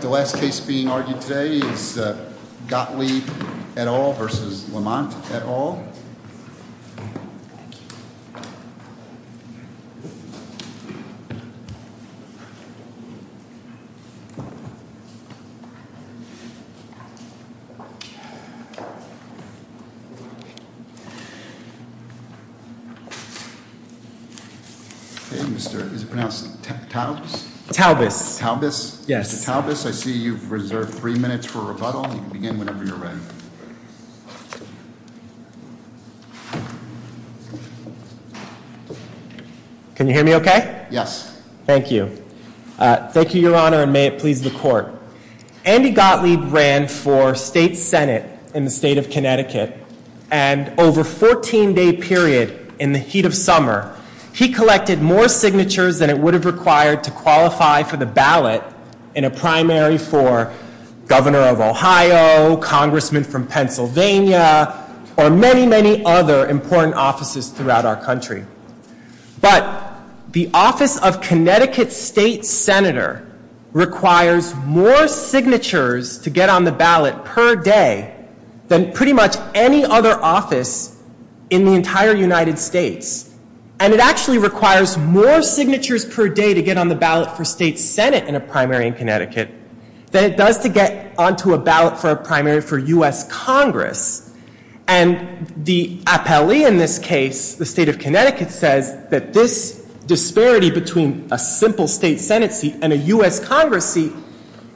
The last case being argued today is Gottlieb et al. v. Lamont et al. o I see you've reserved three minutes for rebuttal. You can begin whenever you're ready. Can you hear me okay? Yes. Thank you. Thank you, Your Honor, and may it please the court. Andy Gottlieb ran for state senate in the state of Connecticut, and over a 14-day period in the heat of summer, he collected more signatures than it would have required to qualify for the ballot in a primary for governor of Ohio, congressman from Pennsylvania, or many, many other important offices throughout our country. But the office of Connecticut state senator requires more signatures to get on the ballot per day than pretty much any other office in the entire United States. And it actually requires more signatures per day to get on the ballot for state senate in a primary in Connecticut than it does to get onto a ballot for a primary for U.S. Congress. And the appellee in this case, the state of Connecticut, says that this disparity between a simple state senate seat and a U.S. Congress seat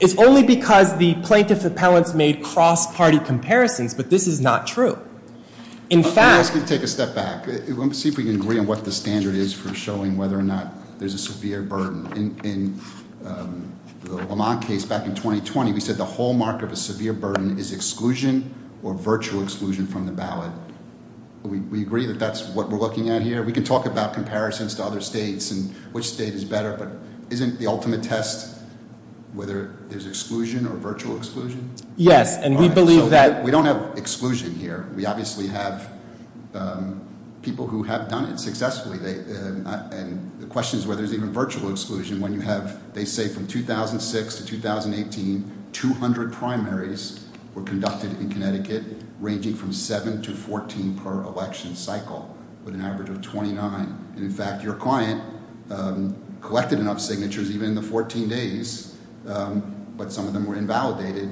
is only because the plaintiff appellants made cross-party comparisons, but this is not true. In fact- Let me ask you to take a step back. Let me see if we can agree on what the standard is for showing whether or not there's a severe burden. In the Lamont case back in 2020, we said the hallmark of a severe burden is exclusion or virtual exclusion from the ballot. We agree that that's what we're looking at here. We can talk about comparisons to other states and which state is better, but isn't the ultimate test whether there's exclusion or virtual exclusion? Yes, and we believe that- And we obviously have people who have done it successfully. And the question is whether there's even virtual exclusion when you have- They say from 2006 to 2018, 200 primaries were conducted in Connecticut, ranging from 7 to 14 per election cycle, with an average of 29. In fact, your client collected enough signatures even in the 14 days, but some of them were invalidated,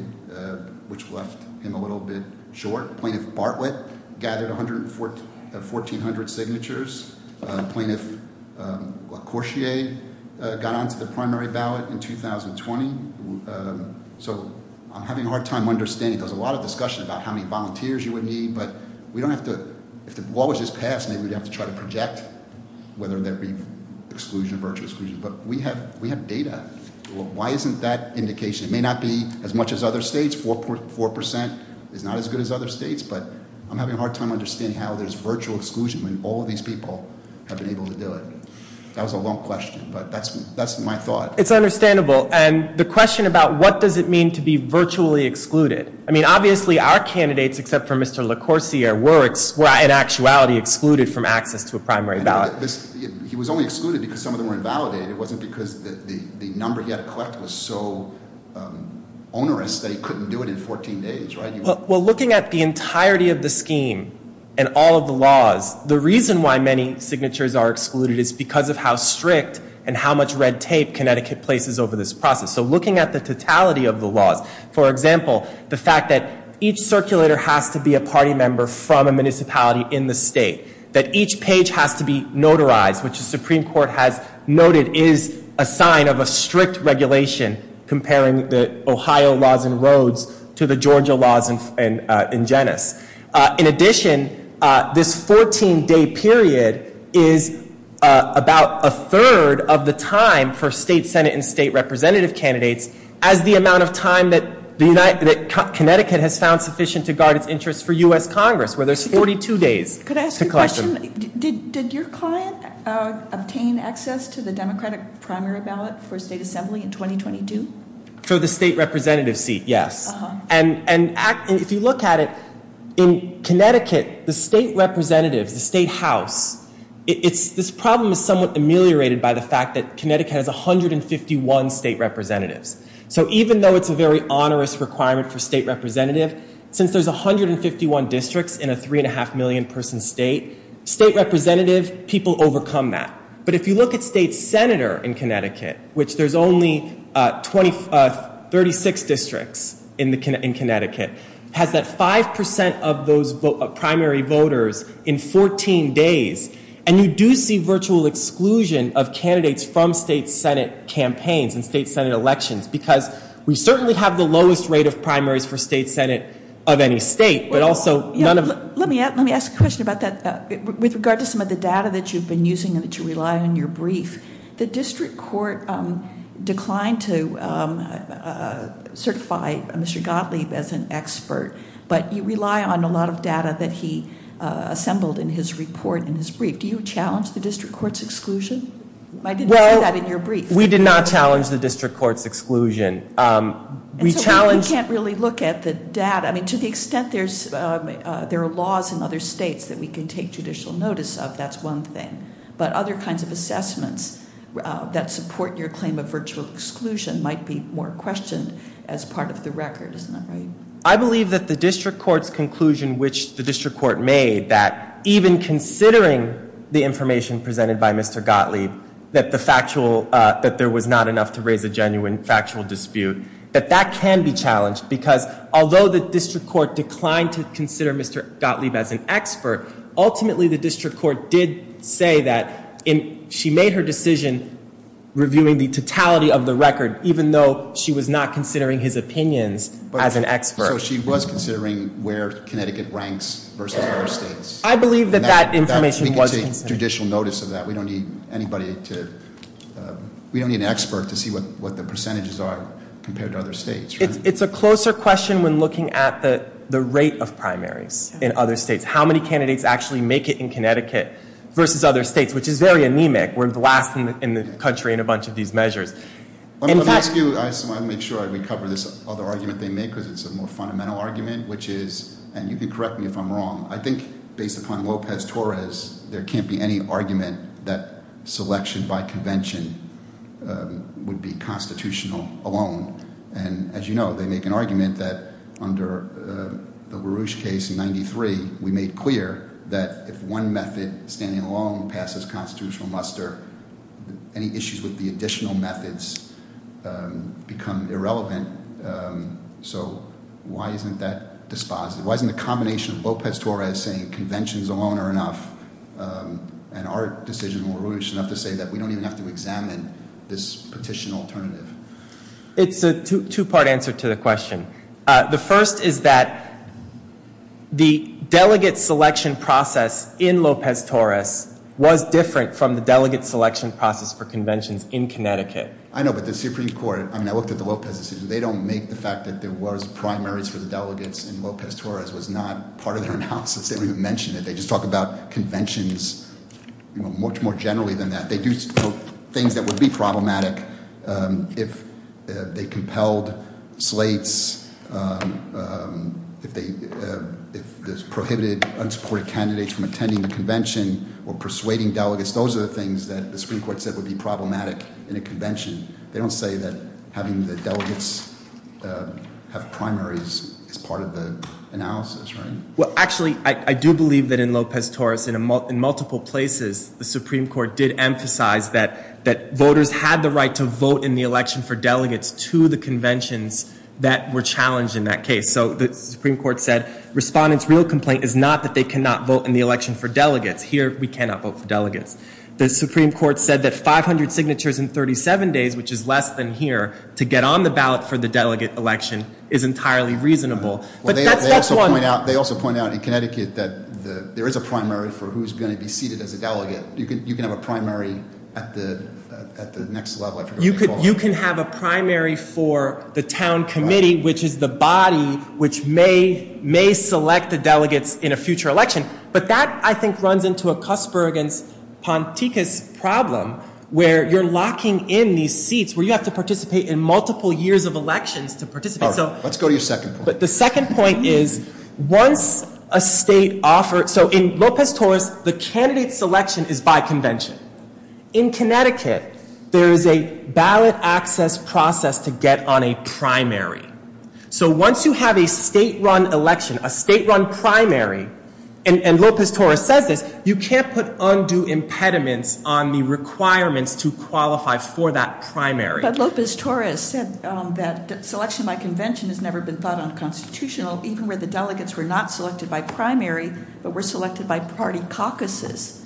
which left him a little bit short. Plaintiff Bartlett gathered 1,400 signatures. Plaintiff LaCourtier got onto the primary ballot in 2020. So I'm having a hard time understanding. There's a lot of discussion about how many volunteers you would need, but if the law was just passed, maybe we'd have to try to project whether there'd be exclusion or virtual exclusion. But we have data. Why isn't that indication? It may not be as much as other states. 4% is not as good as other states, but I'm having a hard time understanding how there's virtual exclusion when all of these people have been able to do it. That was a long question, but that's my thought. It's understandable. And the question about what does it mean to be virtually excluded. I mean, obviously our candidates, except for Mr. LaCourtier, were in actuality excluded from access to a primary ballot. He was only excluded because some of them were invalidated. It wasn't because the number he had to collect was so onerous that he couldn't do it in 14 days, right? Well, looking at the entirety of the scheme and all of the laws, the reason why many signatures are excluded is because of how strict and how much red tape Connecticut places over this process. So looking at the totality of the laws, for example, the fact that each circulator has to be a party member from a municipality in the state, that each page has to be notarized, which the Supreme Court has noted is a sign of a strict regulation comparing the Ohio laws and roads to the Georgia laws in genus. In addition, this 14-day period is about a third of the time for state Senate and state representative candidates as the amount of time that Connecticut has found sufficient to guard its interests for U.S. Congress, where there's 42 days to collect them. Did your client obtain access to the Democratic primary ballot for state assembly in 2022? For the state representative seat, yes. And if you look at it, in Connecticut, the state representatives, the state house, this problem is somewhat ameliorated by the fact that Connecticut has 151 state representatives. So even though it's a very onerous requirement for state representative, since there's 151 districts in a three-and-a-half-million-person state, state representative, people overcome that. But if you look at state senator in Connecticut, which there's only 36 districts in Connecticut, has that 5 percent of those primary voters in 14 days, and you do see virtual exclusion of candidates from state Senate campaigns and state Senate elections because we certainly have the lowest rate of primaries for state Senate of any state, but also none of- Let me ask a question about that. With regard to some of the data that you've been using and that you rely on in your brief, the district court declined to certify Mr. Gottlieb as an expert, but you rely on a lot of data that he assembled in his report in his brief. Do you challenge the district court's exclusion? I didn't see that in your brief. We did not challenge the district court's exclusion. We challenged- We can't really look at the data. I mean, to the extent there are laws in other states that we can take judicial notice of, that's one thing. But other kinds of assessments that support your claim of virtual exclusion might be more questioned as part of the record. Isn't that right? I believe that the district court's conclusion, which the district court made, even considering the information presented by Mr. Gottlieb, that there was not enough to raise a genuine factual dispute, that that can be challenged because although the district court declined to consider Mr. Gottlieb as an expert, ultimately the district court did say that she made her decision reviewing the totality of the record, even though she was not considering his opinions as an expert. So she was considering where Connecticut ranks versus other states. I believe that that information was considered. We can take judicial notice of that. We don't need anybody to- We don't need an expert to see what the percentages are compared to other states. It's a closer question when looking at the rate of primaries in other states, how many candidates actually make it in Connecticut versus other states, which is very anemic. We're the last in the country in a bunch of these measures. Let me ask you, I just want to make sure I recover this other argument they make because it's a more fundamental argument, which is, and you can correct me if I'm wrong, I think based upon Lopez-Torres, there can't be any argument that selection by convention would be constitutional alone. And as you know, they make an argument that under the LaRouche case in 93, we made clear that if one method, standing alone, passes constitutional muster, any issues with the additional methods become irrelevant. So why isn't that dispositive? Why isn't the combination of Lopez-Torres saying conventions alone are enough, and our decision in LaRouche enough to say that we don't even have to examine this petition alternative? It's a two-part answer to the question. The first is that the delegate selection process in Lopez-Torres was different from the delegate selection process for conventions in Connecticut. I know, but the Supreme Court, I mean, I looked at the Lopez decision. They don't make the fact that there was primaries for the delegates in Lopez-Torres was not part of their analysis. They don't even mention it. They just talk about conventions much more generally than that. They do things that would be problematic if they compelled slates, if they prohibited unsupported candidates from attending the convention or persuading delegates. Those are the things that the Supreme Court said would be problematic in a convention. They don't say that having the delegates have primaries is part of the analysis, right? Well, actually, I do believe that in Lopez-Torres, in multiple places, the Supreme Court did emphasize that voters had the right to vote in the election for delegates to the conventions that were challenged in that case. So the Supreme Court said respondents' real complaint is not that they cannot vote in the election for delegates. Here, we cannot vote for delegates. The Supreme Court said that 500 signatures in 37 days, which is less than here, to get on the ballot for the delegate election is entirely reasonable. But that's one. They also point out in Connecticut that there is a primary for who's going to be seated as a delegate. You can have a primary at the next level, I forget what you call it. You can have a primary for the town committee, which is the body which may select the delegates in a future election. But that, I think, runs into a Cusberg and Ponticus problem where you're locking in these seats where you have to participate in multiple years of elections to participate. All right. Let's go to your second point. But the second point is once a state offers – so in Lopez-Torres, the candidate selection is by convention. In Connecticut, there is a ballot access process to get on a primary. So once you have a state-run election, a state-run primary, and Lopez-Torres says this, you can't put undue impediments on the requirements to qualify for that primary. But Lopez-Torres said that selection by convention has never been thought unconstitutional, even where the delegates were not selected by primary but were selected by party caucuses.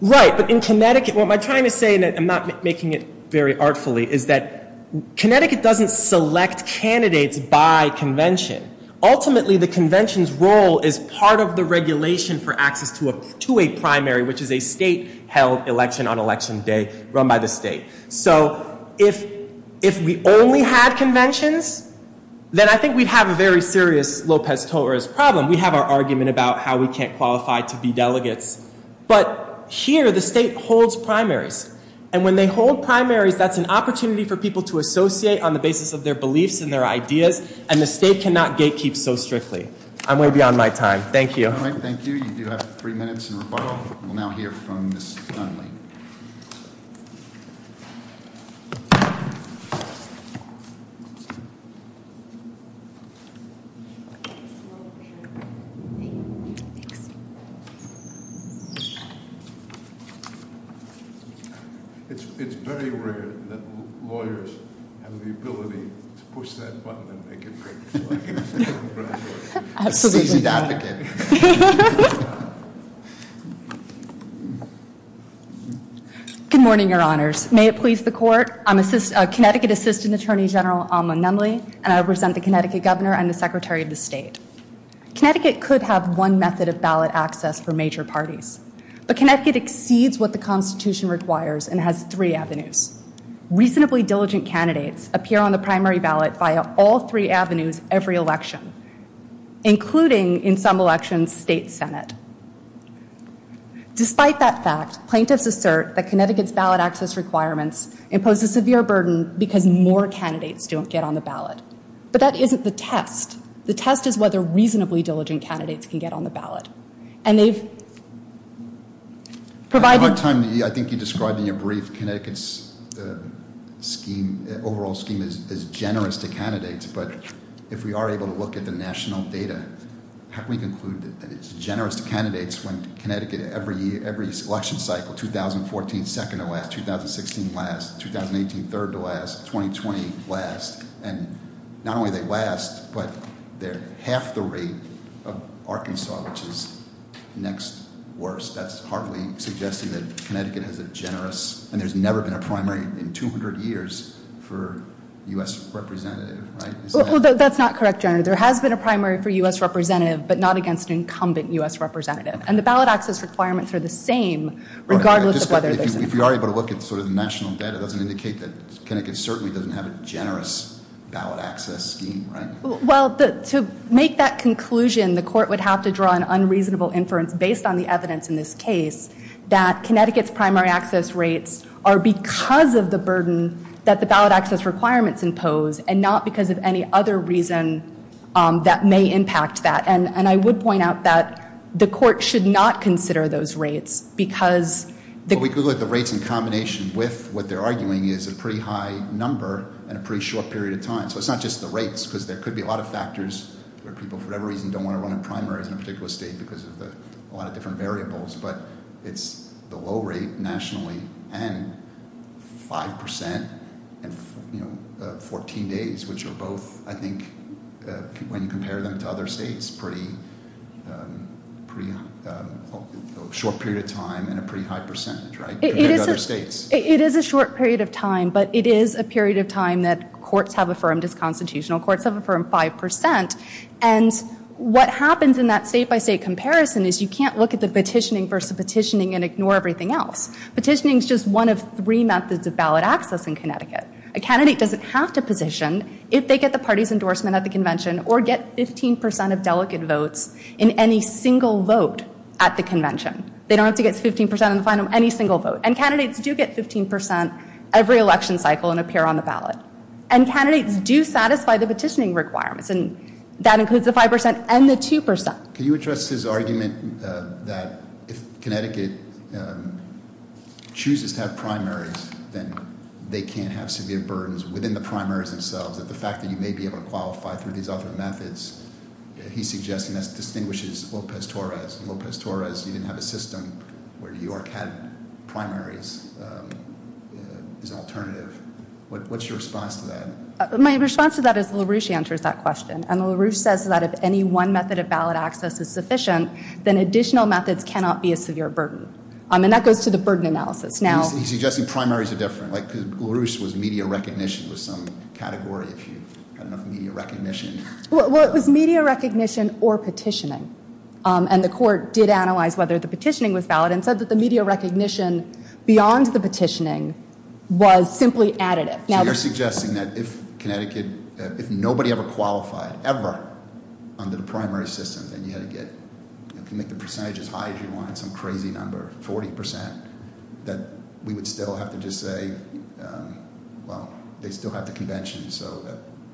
Right. But in Connecticut – what I'm trying to say, and I'm not making it very artfully, is that Connecticut doesn't select candidates by convention. Ultimately, the convention's role is part of the regulation for access to a primary, which is a state-held election on election day run by the state. So if we only had conventions, then I think we'd have a very serious Lopez-Torres problem. We'd have our argument about how we can't qualify to be delegates. But here, the state holds primaries. And when they hold primaries, that's an opportunity for people to associate on the basis of their beliefs and their ideas, and the state cannot gatekeep so strictly. I'm way beyond my time. Thank you. All right. Thank you. You do have three minutes in rebuttal. We'll now hear from Ms. Dunley. It's very rare that lawyers have the ability to push that button and make it great. Absolutely. Good morning, Your Honors. May it please the Court? I'm Connecticut Assistant Attorney General Amna Nunley, and I represent the Connecticut Governor and the Secretary of the State. Connecticut could have one method of ballot access for major parties, but Connecticut exceeds what the Constitution requires and has three avenues. Reasonably diligent candidates appear on the primary ballot via all three avenues every election, including, in some elections, State Senate. Despite that fact, plaintiffs assert that Connecticut's ballot access requirements impose a severe burden because more candidates don't get on the ballot. But that isn't the test. The test is whether reasonably diligent candidates can get on the ballot. I think you described in your brief Connecticut's overall scheme as generous to candidates, but if we are able to look at the national data, how can we conclude that it's generous to candidates when Connecticut, every election cycle, 2014, second to last, 2016, last, 2018, third to last, 2020, last? And not only do they last, but they're half the rate of Arkansas, which is next worst. That's hardly suggesting that Connecticut has a generous, and there's never been a primary in 200 years for a U.S. representative, right? Well, that's not correct, General. There has been a primary for a U.S. representative, but not against an incumbent U.S. representative. And the ballot access requirements are the same regardless of whether there's a primary. If we are able to look at the national data, it doesn't indicate that Connecticut certainly doesn't have a generous ballot access scheme, right? Well, to make that conclusion, the court would have to draw an unreasonable inference based on the evidence in this case that Connecticut's primary access rates are because of the burden that the ballot access requirements impose and not because of any other reason that may impact that. And I would point out that the court should not consider those rates because We could look at the rates in combination with what they're arguing is a pretty high number and a pretty short period of time. So it's not just the rates because there could be a lot of factors where people, for whatever reason, don't want to run in primaries in a particular state because of a lot of different variables. But it's the low rate nationally and 5% in 14 days, which are both, I think, when you compare them to other states, it's a pretty short period of time and a pretty high percentage compared to other states. It is a short period of time, but it is a period of time that courts have affirmed as constitutional. Courts have affirmed 5%. And what happens in that state-by-state comparison is you can't look at the petitioning versus petitioning and ignore everything else. Petitioning is just one of three methods of ballot access in Connecticut. A candidate doesn't have to position if they get the party's endorsement at the convention or get 15% of delegate votes in any single vote at the convention. They don't have to get 15% in any single vote. And candidates do get 15% every election cycle and appear on the ballot. And candidates do satisfy the petitioning requirements, and that includes the 5% and the 2%. Can you address his argument that if Connecticut chooses to have primaries, then they can't have severe burdens within the primaries themselves, that the fact that you may be able to qualify through these other methods, he's suggesting that distinguishes Lopez-Torres. Lopez-Torres didn't have a system where New York had primaries as an alternative. What's your response to that? My response to that is LaRouche answers that question. And LaRouche says that if any one method of ballot access is sufficient, then additional methods cannot be a severe burden. And that goes to the burden analysis. He's suggesting primaries are different. LaRouche was media recognition with some category, if you've got enough media recognition. Well, it was media recognition or petitioning. And the court did analyze whether the petitioning was valid and said that the media recognition beyond the petitioning was simply additive. So you're suggesting that if Connecticut, if nobody ever qualified ever under the primary system, then you had to get, you can make the percentage as high as you want, some crazy number, 40%, that we would still have to just say, well, they still have the convention, so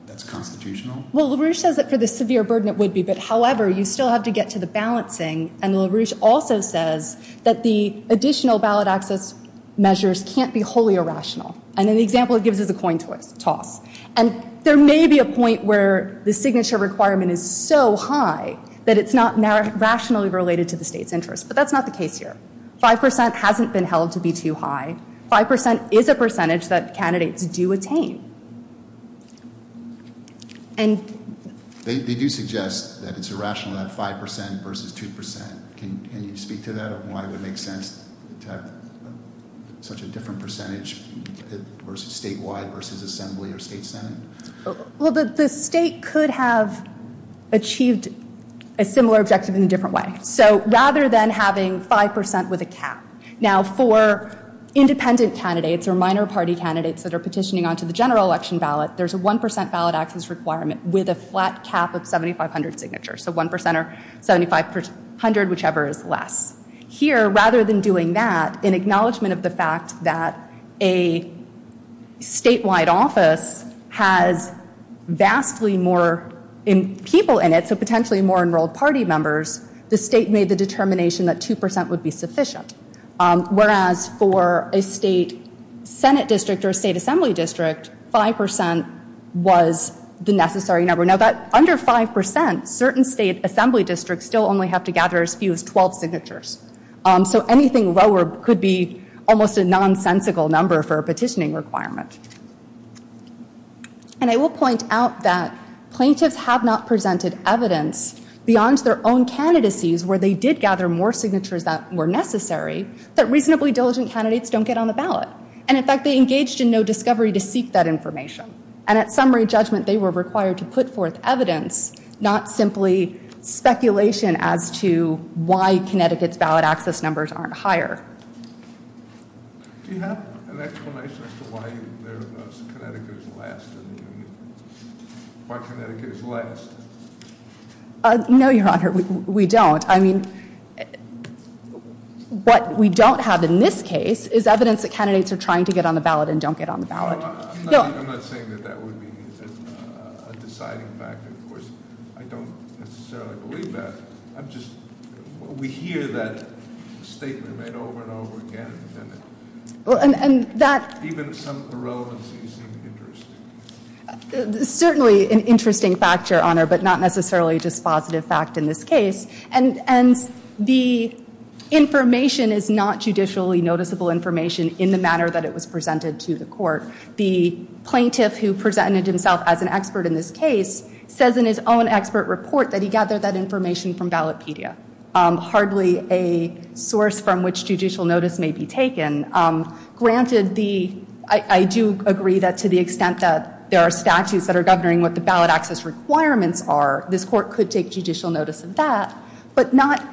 that's constitutional? Well, LaRouche says that for the severe burden it would be. But, however, you still have to get to the balancing. And LaRouche also says that the additional ballot access measures can't be wholly irrational. And in the example it gives is a coin toss. And there may be a point where the signature requirement is so high that it's not rationally related to the state's interest. But that's not the case here. Five percent hasn't been held to be too high. Five percent is a percentage that candidates do attain. They do suggest that it's irrational to have five percent versus two percent. Can you speak to that? Why would it make sense to have such a different percentage statewide versus assembly or state senate? Well, the state could have achieved a similar objective in a different way. So rather than having five percent with a cap. Now, for independent candidates or minor party candidates that are petitioning onto the general election ballot, there's a one percent ballot access requirement with a flat cap of 7,500 signatures. So one percent or 7,500, whichever is less. Here, rather than doing that, in acknowledgment of the fact that a statewide office has vastly more people in it, so potentially more enrolled party members, the state made the determination that two percent would be sufficient. Whereas for a state senate district or a state assembly district, five percent was the necessary number. Now, that under five percent, certain state assembly districts still only have to gather as few as 12 signatures. So anything lower could be almost a nonsensical number for a petitioning requirement. And I will point out that plaintiffs have not presented evidence beyond their own candidacies where they did gather more signatures that were necessary that reasonably diligent candidates don't get on the ballot. And, in fact, they engaged in no discovery to seek that information. And at summary judgment, they were required to put forth evidence, not simply speculation as to why Connecticut's ballot access numbers aren't higher. Do you have an explanation as to why Connecticut is last? No, Your Honor, we don't. I mean, what we don't have in this case is evidence that candidates are trying to get on the ballot and don't get on the ballot. No, I'm not saying that that would be a deciding factor. Of course, I don't necessarily believe that. I'm just, we hear that statement made over and over again, and even some of the relevance seems interesting. Certainly an interesting fact, Your Honor, but not necessarily just positive fact in this case. And the information is not judicially noticeable information in the manner that it was presented to the court. The plaintiff who presented himself as an expert in this case says in his own expert report that he gathered that information from Ballotpedia, hardly a source from which judicial notice may be taken. Granted, I do agree that to the extent that there are statutes that are governing what the ballot access requirements are, this court could take judicial notice of that, but not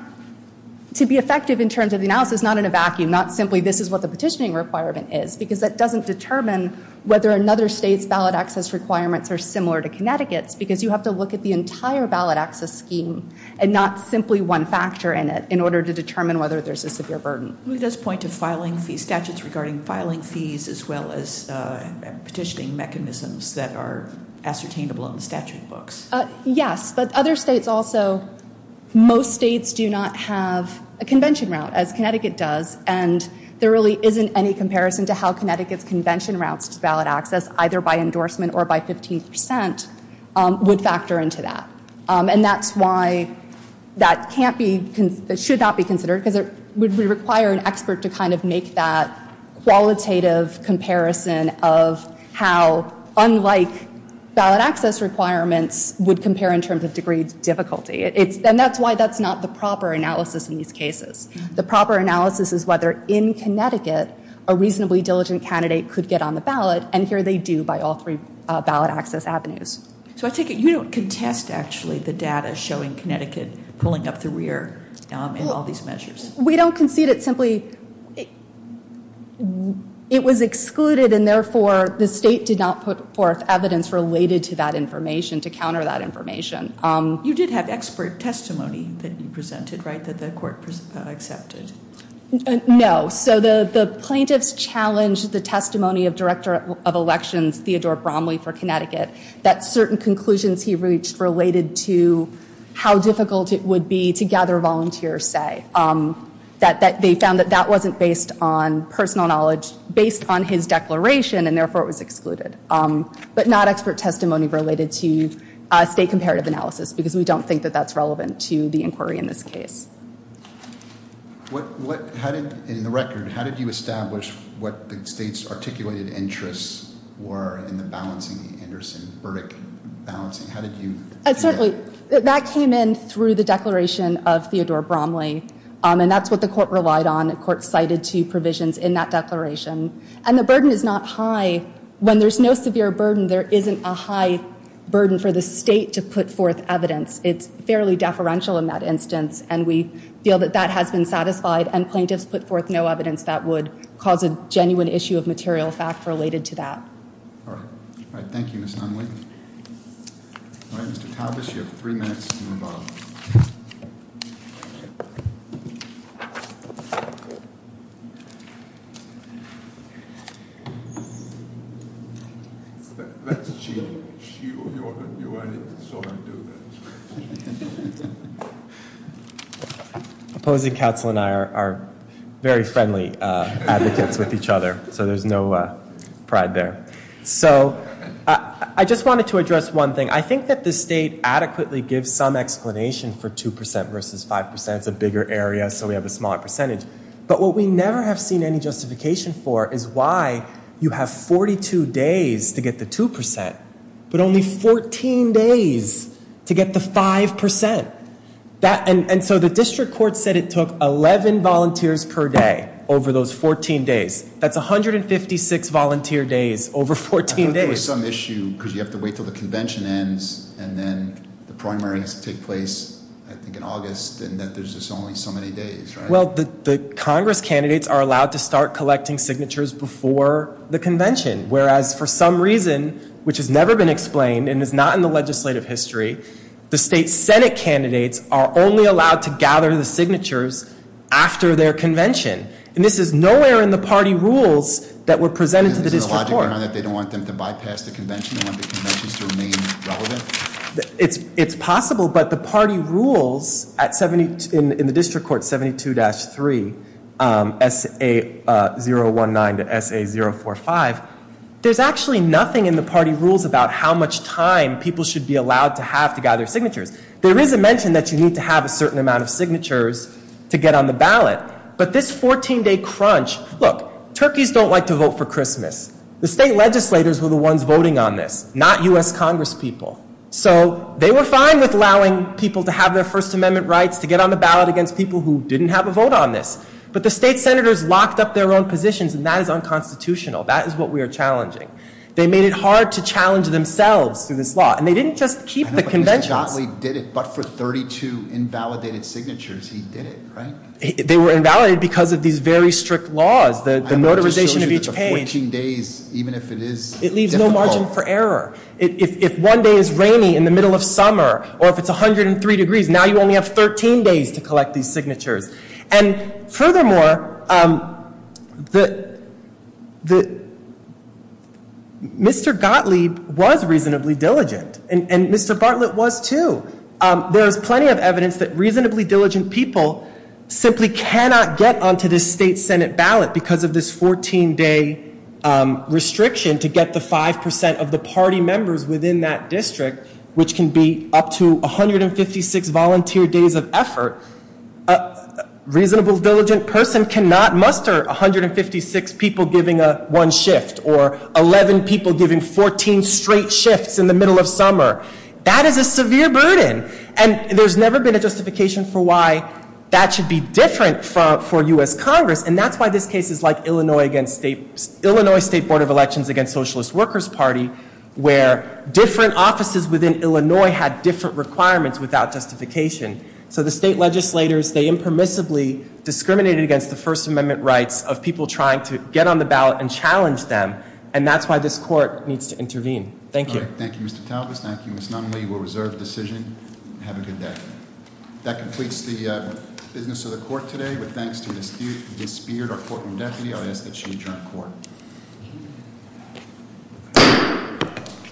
to be effective in terms of the analysis, not in a vacuum, not simply this is what the petitioning requirement is, because that doesn't determine whether another state's ballot access requirements are similar to Connecticut's, because you have to look at the entire ballot access scheme and not simply one factor in it, in order to determine whether there's a severe burden. He does point to filing fee statutes regarding filing fees as well as petitioning mechanisms that are ascertainable in the statute books. Yes, but other states also, most states do not have a convention route, as Connecticut does, and there really isn't any comparison to how Connecticut's convention routes to ballot access, either by endorsement or by 15 percent, would factor into that. And that's why that can't be, should not be considered, because it would require an expert to kind of make that qualitative comparison of how, unlike ballot access requirements, would compare in terms of degree difficulty. And that's why that's not the proper analysis in these cases. The proper analysis is whether, in Connecticut, a reasonably diligent candidate could get on the ballot, and here they do by all three ballot access avenues. So I take it you don't contest, actually, the data showing Connecticut pulling up the rear in all these measures. We don't concede it simply. It was excluded, and therefore the state did not put forth evidence related to that information to counter that information. You did have expert testimony that you presented, right, that the court accepted? No. So the plaintiffs challenged the testimony of Director of Elections Theodore Bromley for Connecticut that certain conclusions he reached related to how difficult it would be to gather volunteer say, that they found that that wasn't based on personal knowledge, based on his declaration, and therefore it was excluded, but not expert testimony related to state comparative analysis, because we don't think that that's relevant to the inquiry in this case. In the record, how did you establish what the state's articulated interests were in the balancing, the Anderson-Burdick balancing? That came in through the declaration of Theodore Bromley, and that's what the court relied on. The court cited two provisions in that declaration, and the burden is not high. When there's no severe burden, there isn't a high burden for the state to put forth evidence. It's fairly deferential in that instance, and we feel that that has been satisfied, and plaintiffs put forth no evidence that would cause a genuine issue of material fact related to that. All right. Thank you, Ms. Nunley. All right, Mr. Taubes, you have three minutes to move on. All right. Opposing counsel and I are very friendly advocates with each other, so there's no pride there. So I just wanted to address one thing. I think that the state adequately gives some explanation for 2% versus 5%. It's a bigger area, so we have a smaller percentage. But what we never have seen any justification for is why you have 42 days to get the 2%, but only 14 days to get the 5%. And so the district court said it took 11 volunteers per day over those 14 days. That's 156 volunteer days over 14 days. I thought there was some issue because you have to wait until the convention ends, and then the primaries take place, I think, in August, and that there's just only so many days, right? Well, the Congress candidates are allowed to start collecting signatures before the convention, whereas for some reason, which has never been explained and is not in the legislative history, the state senate candidates are only allowed to gather the signatures after their convention. And this is nowhere in the party rules that were presented to the district court. They don't want them to bypass the convention? They want the conventions to remain relevant? It's possible, but the party rules in the district court 72-3, S.A. 019 to S.A. 045, there's actually nothing in the party rules about how much time people should be allowed to have to gather signatures. There is a mention that you need to have a certain amount of signatures to get on the ballot, but this 14-day crunch, look, turkeys don't like to vote for Christmas. The state legislators were the ones voting on this, not U.S. Congress people. So they were fine with allowing people to have their First Amendment rights to get on the ballot against people who didn't have a vote on this, but the state senators locked up their own positions, and that is unconstitutional. That is what we are challenging. They made it hard to challenge themselves through this law, and they didn't just keep the conventions. I know, but Mr. Gottlieb did it, but for 32 invalidated signatures, he did it, right? They were invalidated because of these very strict laws, the motorization of each page. I'm not just showing you that the 14 days, even if it is difficult. It leaves no margin for error. If one day is rainy in the middle of summer, or if it's 103 degrees, now you only have 13 days to collect these signatures. And furthermore, Mr. Gottlieb was reasonably diligent, and Mr. Bartlett was too. There is plenty of evidence that reasonably diligent people simply cannot get onto the state senate ballot because of this 14-day restriction to get the 5% of the party members within that district, which can be up to 156 volunteer days of effort. A reasonably diligent person cannot muster 156 people giving one shift, or 11 people giving 14 straight shifts in the middle of summer. That is a severe burden, and there's never been a justification for why that should be different for U.S. Congress, and that's why this case is like Illinois State Board of Elections against Socialist Workers Party, where different offices within Illinois had different requirements without justification. So the state legislators, they impermissibly discriminated against the First Amendment rights of people trying to get on the ballot and challenge them, and that's why this court needs to intervene. Thank you. Thank you, Mr. Talbots. Thank you, Ms. Nunley. We'll reserve the decision. Have a good day. That completes the business of the court today. With thanks to Ms. Beard, our courtroom deputy, I'll ask that she adjourn court.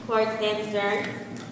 Court is adjourned.